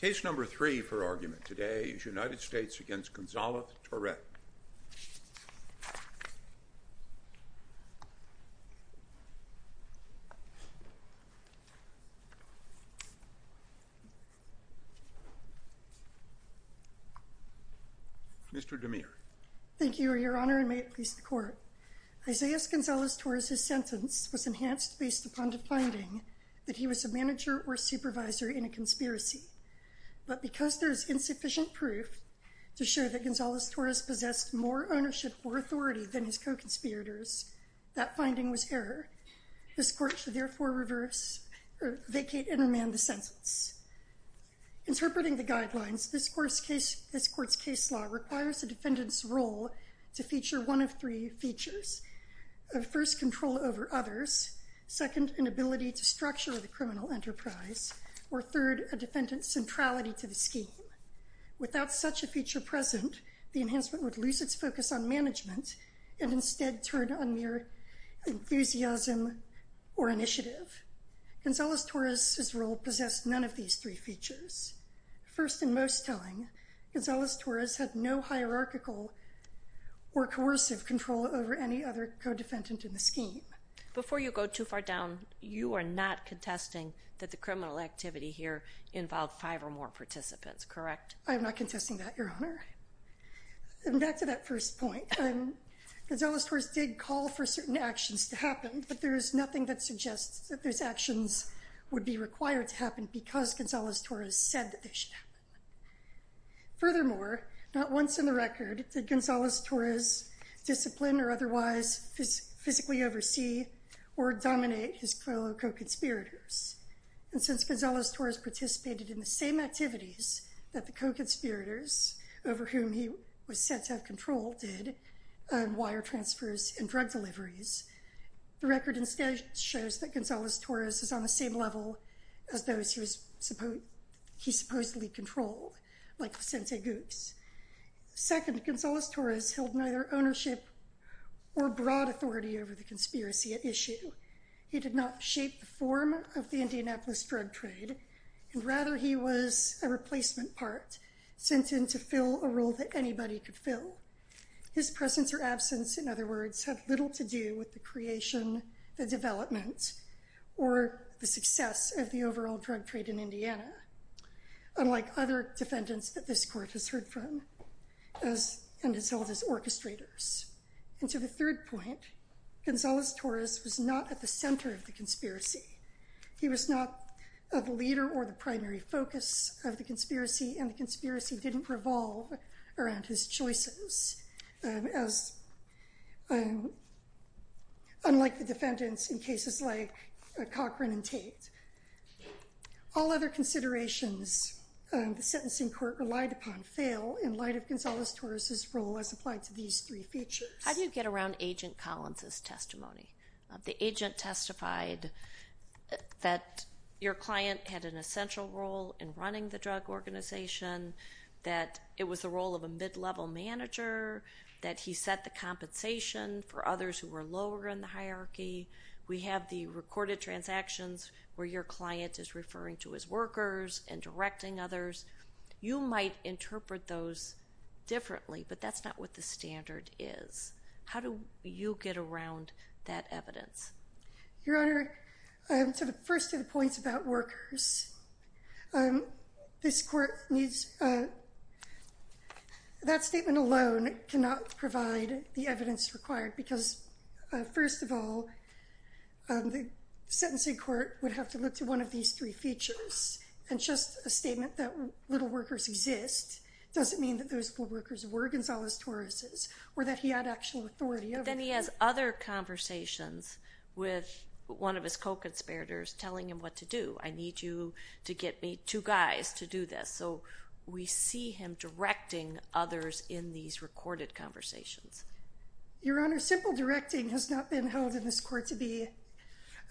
Case number three for argument today is United States v. Gonzalez-Torres. Mr. DeMere. Thank you, Your Honor, and may it please the Court. Isaias Gonzalez-Torres' sentence was enhanced based upon the finding that he was a manager or supervisor in a conspiracy, but because there is insufficient proof to show that Gonzalez-Torres possessed more ownership or authority than his co-conspirators, that finding was error. This Court should therefore vacate and remand the sentence. Interpreting the guidelines, this Court's case law requires a defendant's role to feature one of three features. First, control over others. Second, an ability to structure the criminal enterprise. Or third, a defendant's centrality to the scheme. Without such a feature present, the enhancement would lose its focus on management and instead turn on mere enthusiasm or initiative. Gonzalez-Torres' role possessed none of these three features. First and most telling, Gonzalez-Torres had no hierarchical or coercive control over any other defendant in the scheme. Before you go too far down, you are not contesting that the criminal activity here involved five or more participants, correct? I am not contesting that, Your Honor. And back to that first point, Gonzalez-Torres did call for certain actions to happen, but there is nothing that suggests that those actions would be required to happen because Gonzalez-Torres said that they should happen. Furthermore, not once in the record did Gonzalez-Torres discipline or otherwise physically oversee or dominate his fellow co-conspirators. And since Gonzalez-Torres participated in the same activities that the co-conspirators, over whom he was said to have control, did on wire transfers and drug deliveries, the record instead shows that Gonzalez-Torres is on the same level as those he supposedly controlled, like Vicente Goose. Second, Gonzalez-Torres held neither ownership or broad authority over the conspiracy at issue. He did not shape the form of the Indianapolis drug trade, and rather he was a replacement part, sent in to fill a role that anybody could fill. His presence or absence, in other words, had little to do with the creation, the development, or the success of the overall drug trade in Indiana. Unlike other defendants that this court has heard from, and as well as orchestrators. And to the third point, Gonzalez-Torres was not at the center of the conspiracy. He was not a leader or the primary focus of the conspiracy, and the conspiracy didn't revolve around his choices, unlike the defendants in cases like Cochran and Tate. All other considerations the sentencing court relied upon fail in light of Gonzalez-Torres' role as applied to these three features. How do you get around Agent Collins' testimony? The agent testified that your client had an essential role in running the drug organization, that it was the role of a mid-level manager, that he set the compensation for others who were lower in the hierarchy. We have the recorded transactions where your client is referring to his workers and directing others. You might interpret those differently, but that's not what the standard is. How do you get around that evidence? Your Honor, to the first of the points about workers, that statement alone cannot provide the evidence required, because first of all, the sentencing court would have to look to one of these three features. And just a statement that little workers exist doesn't mean that those little workers were Gonzalez-Torres', or that he had actual authority over them. And then he has other conversations with one of his co-conspirators telling him what to do. I need you to get me two guys to do this. So we see him directing others in these recorded conversations. Your Honor, simple directing has not been held in this court to be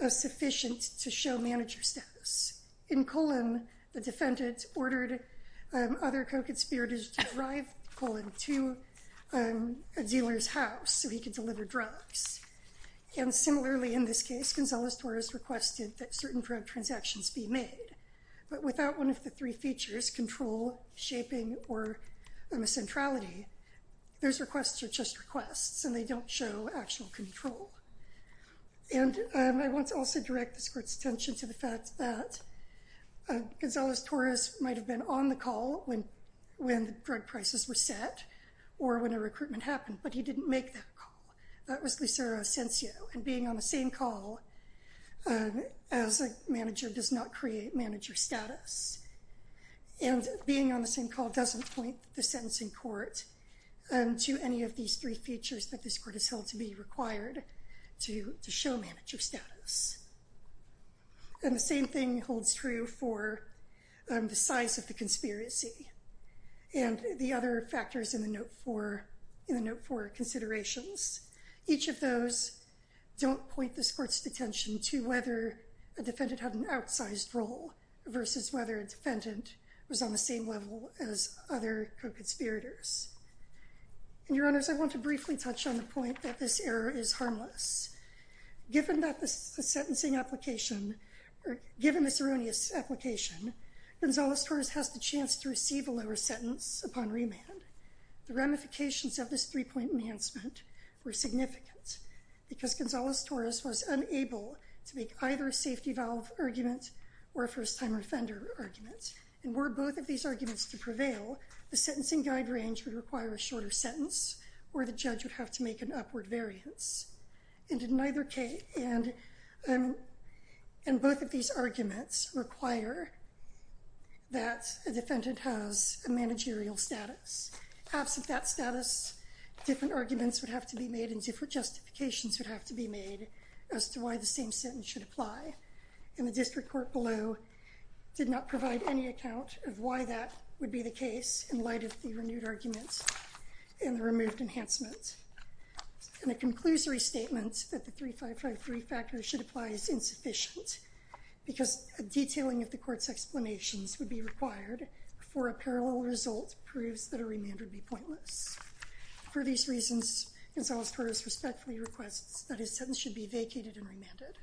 sufficient to show manager status. In Cullen, the defendant ordered other co-conspirators to drive Cullen to a dealer's house so he could deliver drugs. And similarly, in this case, Gonzalez-Torres requested that certain drug transactions be made. But without one of the three features, control, shaping, or centrality, those requests are just requests, and they don't show actual control. And I want to also direct this court's attention to the fact that Gonzalez-Torres might have been on the call when the drug prices were set or when a recruitment happened, but he didn't make that call. That was Lucero Asencio. And being on the same call as a manager does not create manager status. And being on the same call doesn't point the sentencing court to any of these three features that this court has held to be required to show manager status. And the same thing holds true for the size of the conspiracy and the other factors in the Note 4 considerations. Each of those don't point this court's attention to whether a defendant had an outsized role versus whether a defendant was on the same level as other co-conspirators. And, Your Honors, I want to briefly touch on the point that this error is harmless. Given that the sentencing application, or given this erroneous application, Gonzalez-Torres has the chance to receive a lower sentence upon remand. The ramifications of this three-point enhancement were significant because Gonzalez-Torres was unable to make either a safety valve argument or a first-timer offender argument. And were both of these arguments to prevail, the sentencing guide range would require a shorter sentence, or the judge would have to make an upward variance. And both of these arguments require that a defendant has a managerial status. Absent that status, different arguments would have to be made and different justifications would have to be made as to why the same sentence should apply. And the district court below did not provide any account of why that would be the case in light of the renewed arguments and the removed enhancement. And a conclusory statement that the 3553 factor should apply is insufficient because a detailing of the court's explanations would be required before a parallel result proves that a remand would be pointless. For these reasons, Gonzalez-Torres respectfully requests that his sentence should be vacated and remanded.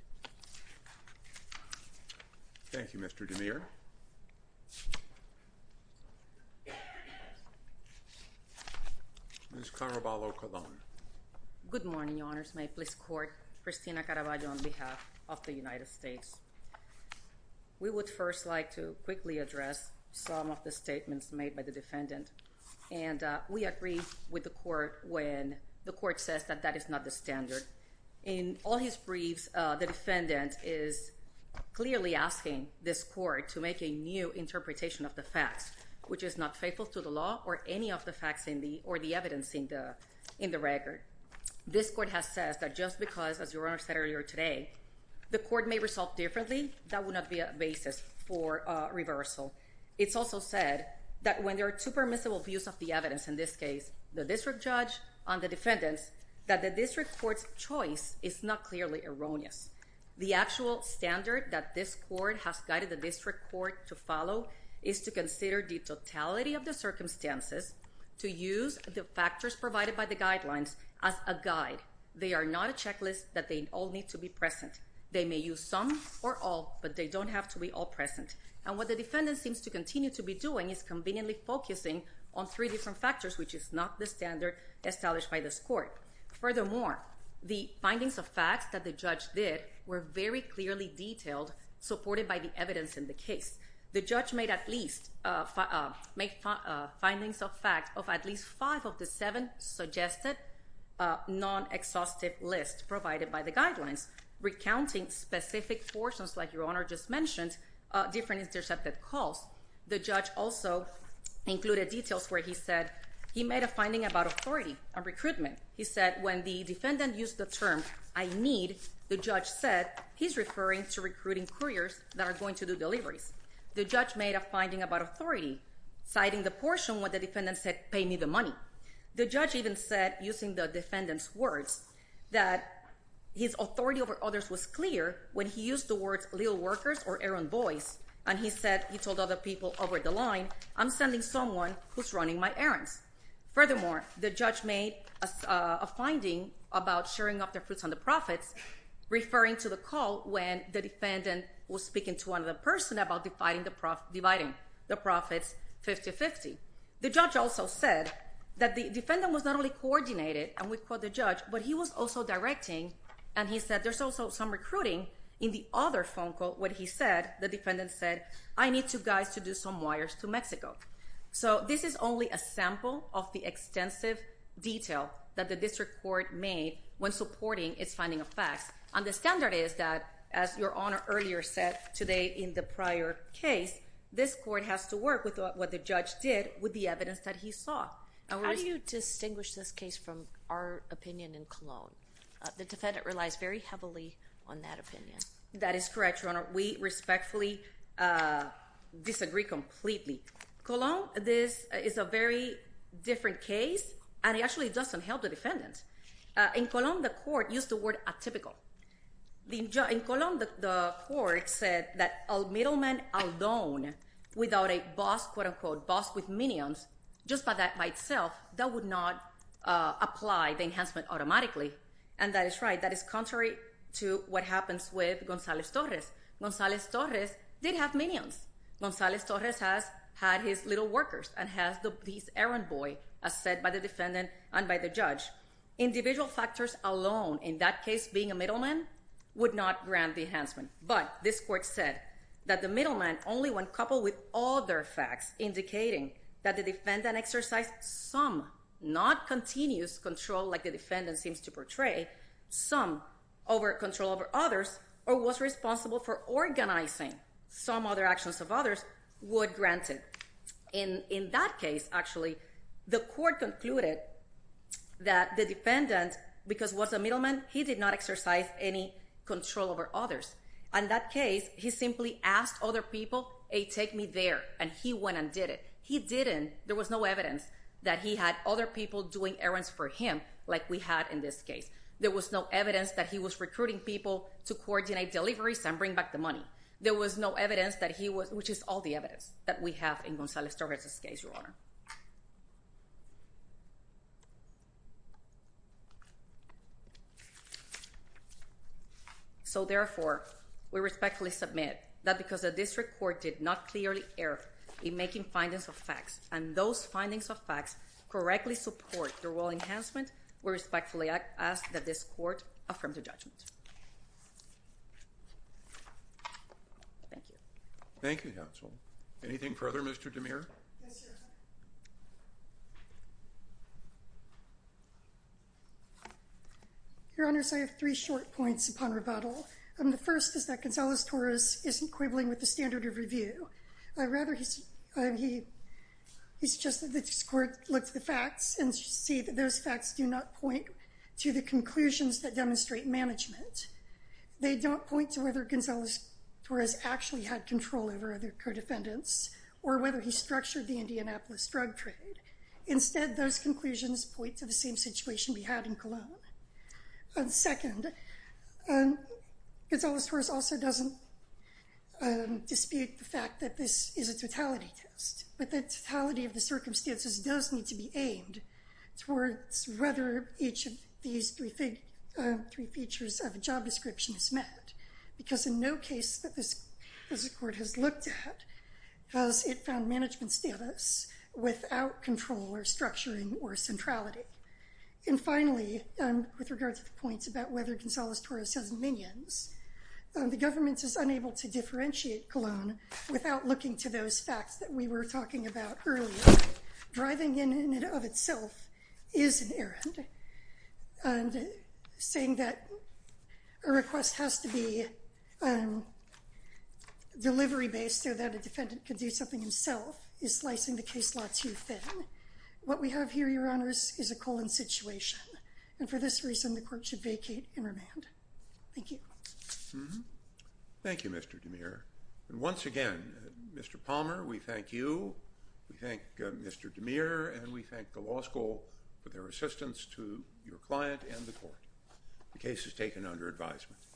Thank you, Mr. DeMere. Ms. Caraballo-Colón. Good morning, Your Honors. May it please the court, Christina Caraballo on behalf of the United States. We would first like to quickly address some of the statements made by the defendant. And we agree with the court when the court says that that is not the standard. In all his briefs, the defendant is clearly asking this court to make a new interpretation of the facts, which is not faithful to the law or any of the facts or the evidence in the record. This court has said that just because, as Your Honor said earlier today, the court may resolve differently, that would not be a basis for reversal. It's also said that when there are two permissible views of the evidence, in this case, the district judge and the defendants, that the district court's choice is not clearly erroneous. The actual standard that this court has guided the district court to follow is to consider the totality of the circumstances, to use the factors provided by the guidelines as a guide. They are not a checklist that they all need to be present. They may use some or all, but they don't have to be all present. And what the defendant seems to continue to be doing is conveniently focusing on three different factors, which is not the standard established by this court. Furthermore, the findings of facts that the judge did were very clearly detailed, supported by the evidence in the case. The judge made at least, made findings of fact of at least five of the seven suggested non-exhaustive lists provided by the guidelines, recounting specific portions, like Your Honor just mentioned, different intercepted calls. The judge also included details where he said he made a finding about authority and recruitment. He said when the defendant used the term, I need, the judge said, he's referring to recruiting couriers that are going to do deliveries. The judge made a finding about authority, citing the portion where the defendant said, pay me the money. The judge even said, using the defendant's words, that his authority over others was clear when he used the words, little workers or errand boys, and he said, he told other people over the line, I'm sending someone who's running my errands. Furthermore, the judge made a finding about sharing of the fruits and the profits, referring to the call when the defendant was speaking to another person about dividing the profits 50-50. The judge also said that the defendant was not only coordinated, and we quote the judge, but he was also directing, and he said there's also some recruiting in the other phone call when he said, the defendant said, I need you guys to do some wires to Mexico. So this is only a sample of the extensive detail that the district court made when supporting its finding of facts, and the standard is that, as Your Honor earlier said today in the prior case, this court has to work with what the opinion in Cologne. The defendant relies very heavily on that opinion. That is correct, Your Honor. We respectfully disagree completely. Cologne, this is a very different case, and it actually doesn't help the defendant. In Cologne, the court used the word atypical. In Cologne, the court said that a middleman alone, without a boss, quote apply the enhancement automatically, and that is right. That is contrary to what happens with Gonzalez-Torres. Gonzalez-Torres did have minions. Gonzalez-Torres has had his little workers and has this errand boy, as said by the defendant and by the judge. Individual factors alone, in that case being a middleman, would not grant the enhancement, but this court said that the middleman only when coupled with other facts indicating that the defendant exercised some, not continuous control like the defendant seems to portray, some control over others or was responsible for organizing some other actions of others would grant it. In that case, actually, the court concluded that the defendant, because he was a middleman, he did not exercise any control over others. In that case, he simply asked other people a take me there and he went and did it. He didn't, there was no evidence that he had other people doing errands for him like we had in this case. There was no evidence that he was recruiting people to coordinate deliveries and bring back the money. There was no evidence that he was, which is all the evidence that we have in Gonzalez-Torres' case, Your Honor. So, therefore, we respectfully submit that because the district court did not clearly err in making findings of facts and those findings of facts correctly support the role enhancement, we respectfully ask that this court affirm the judgment. Thank you. Thank you, counsel. Anything further, Mr. DeMere? Your Honors, I have three short points upon rebuttal. The first is that Gonzalez-Torres isn't quibbling with the standard of review. Rather, he suggested that this court look at the facts and see that those facts do not point to the conclusions that demonstrate management. They don't point to whether Gonzalez-Torres actually had control over other co-defendants or whether he structured the Indianapolis drug trade. Instead, those conclusions point to the same situation we had in Colon. Second, Gonzalez-Torres also doesn't dispute the fact that this is a totality test, but the totality of the circumstances does need to be aimed towards whether each of these three features of a job description is met, because in no case that this court has looked at has it found management status without control or structuring or centrality. And finally, with regard to the points about whether Gonzalez-Torres has minions, the government is unable to differentiate Colon without looking to those facts that we were talking about earlier. Driving in and of itself is an errand, and saying that a request has to be delivery-based so that a defendant can do something himself is slicing the case law too thin. What we have here, Your Honors, is a colon situation, and for this reason the court should vacate and remand. Thank you. Thank you, Mr. DeMere. And once again, Mr. Palmer, we thank you, we thank Mr. DeMere, and we thank the law school for their assistance to your client and the court. The case is taken under advisement.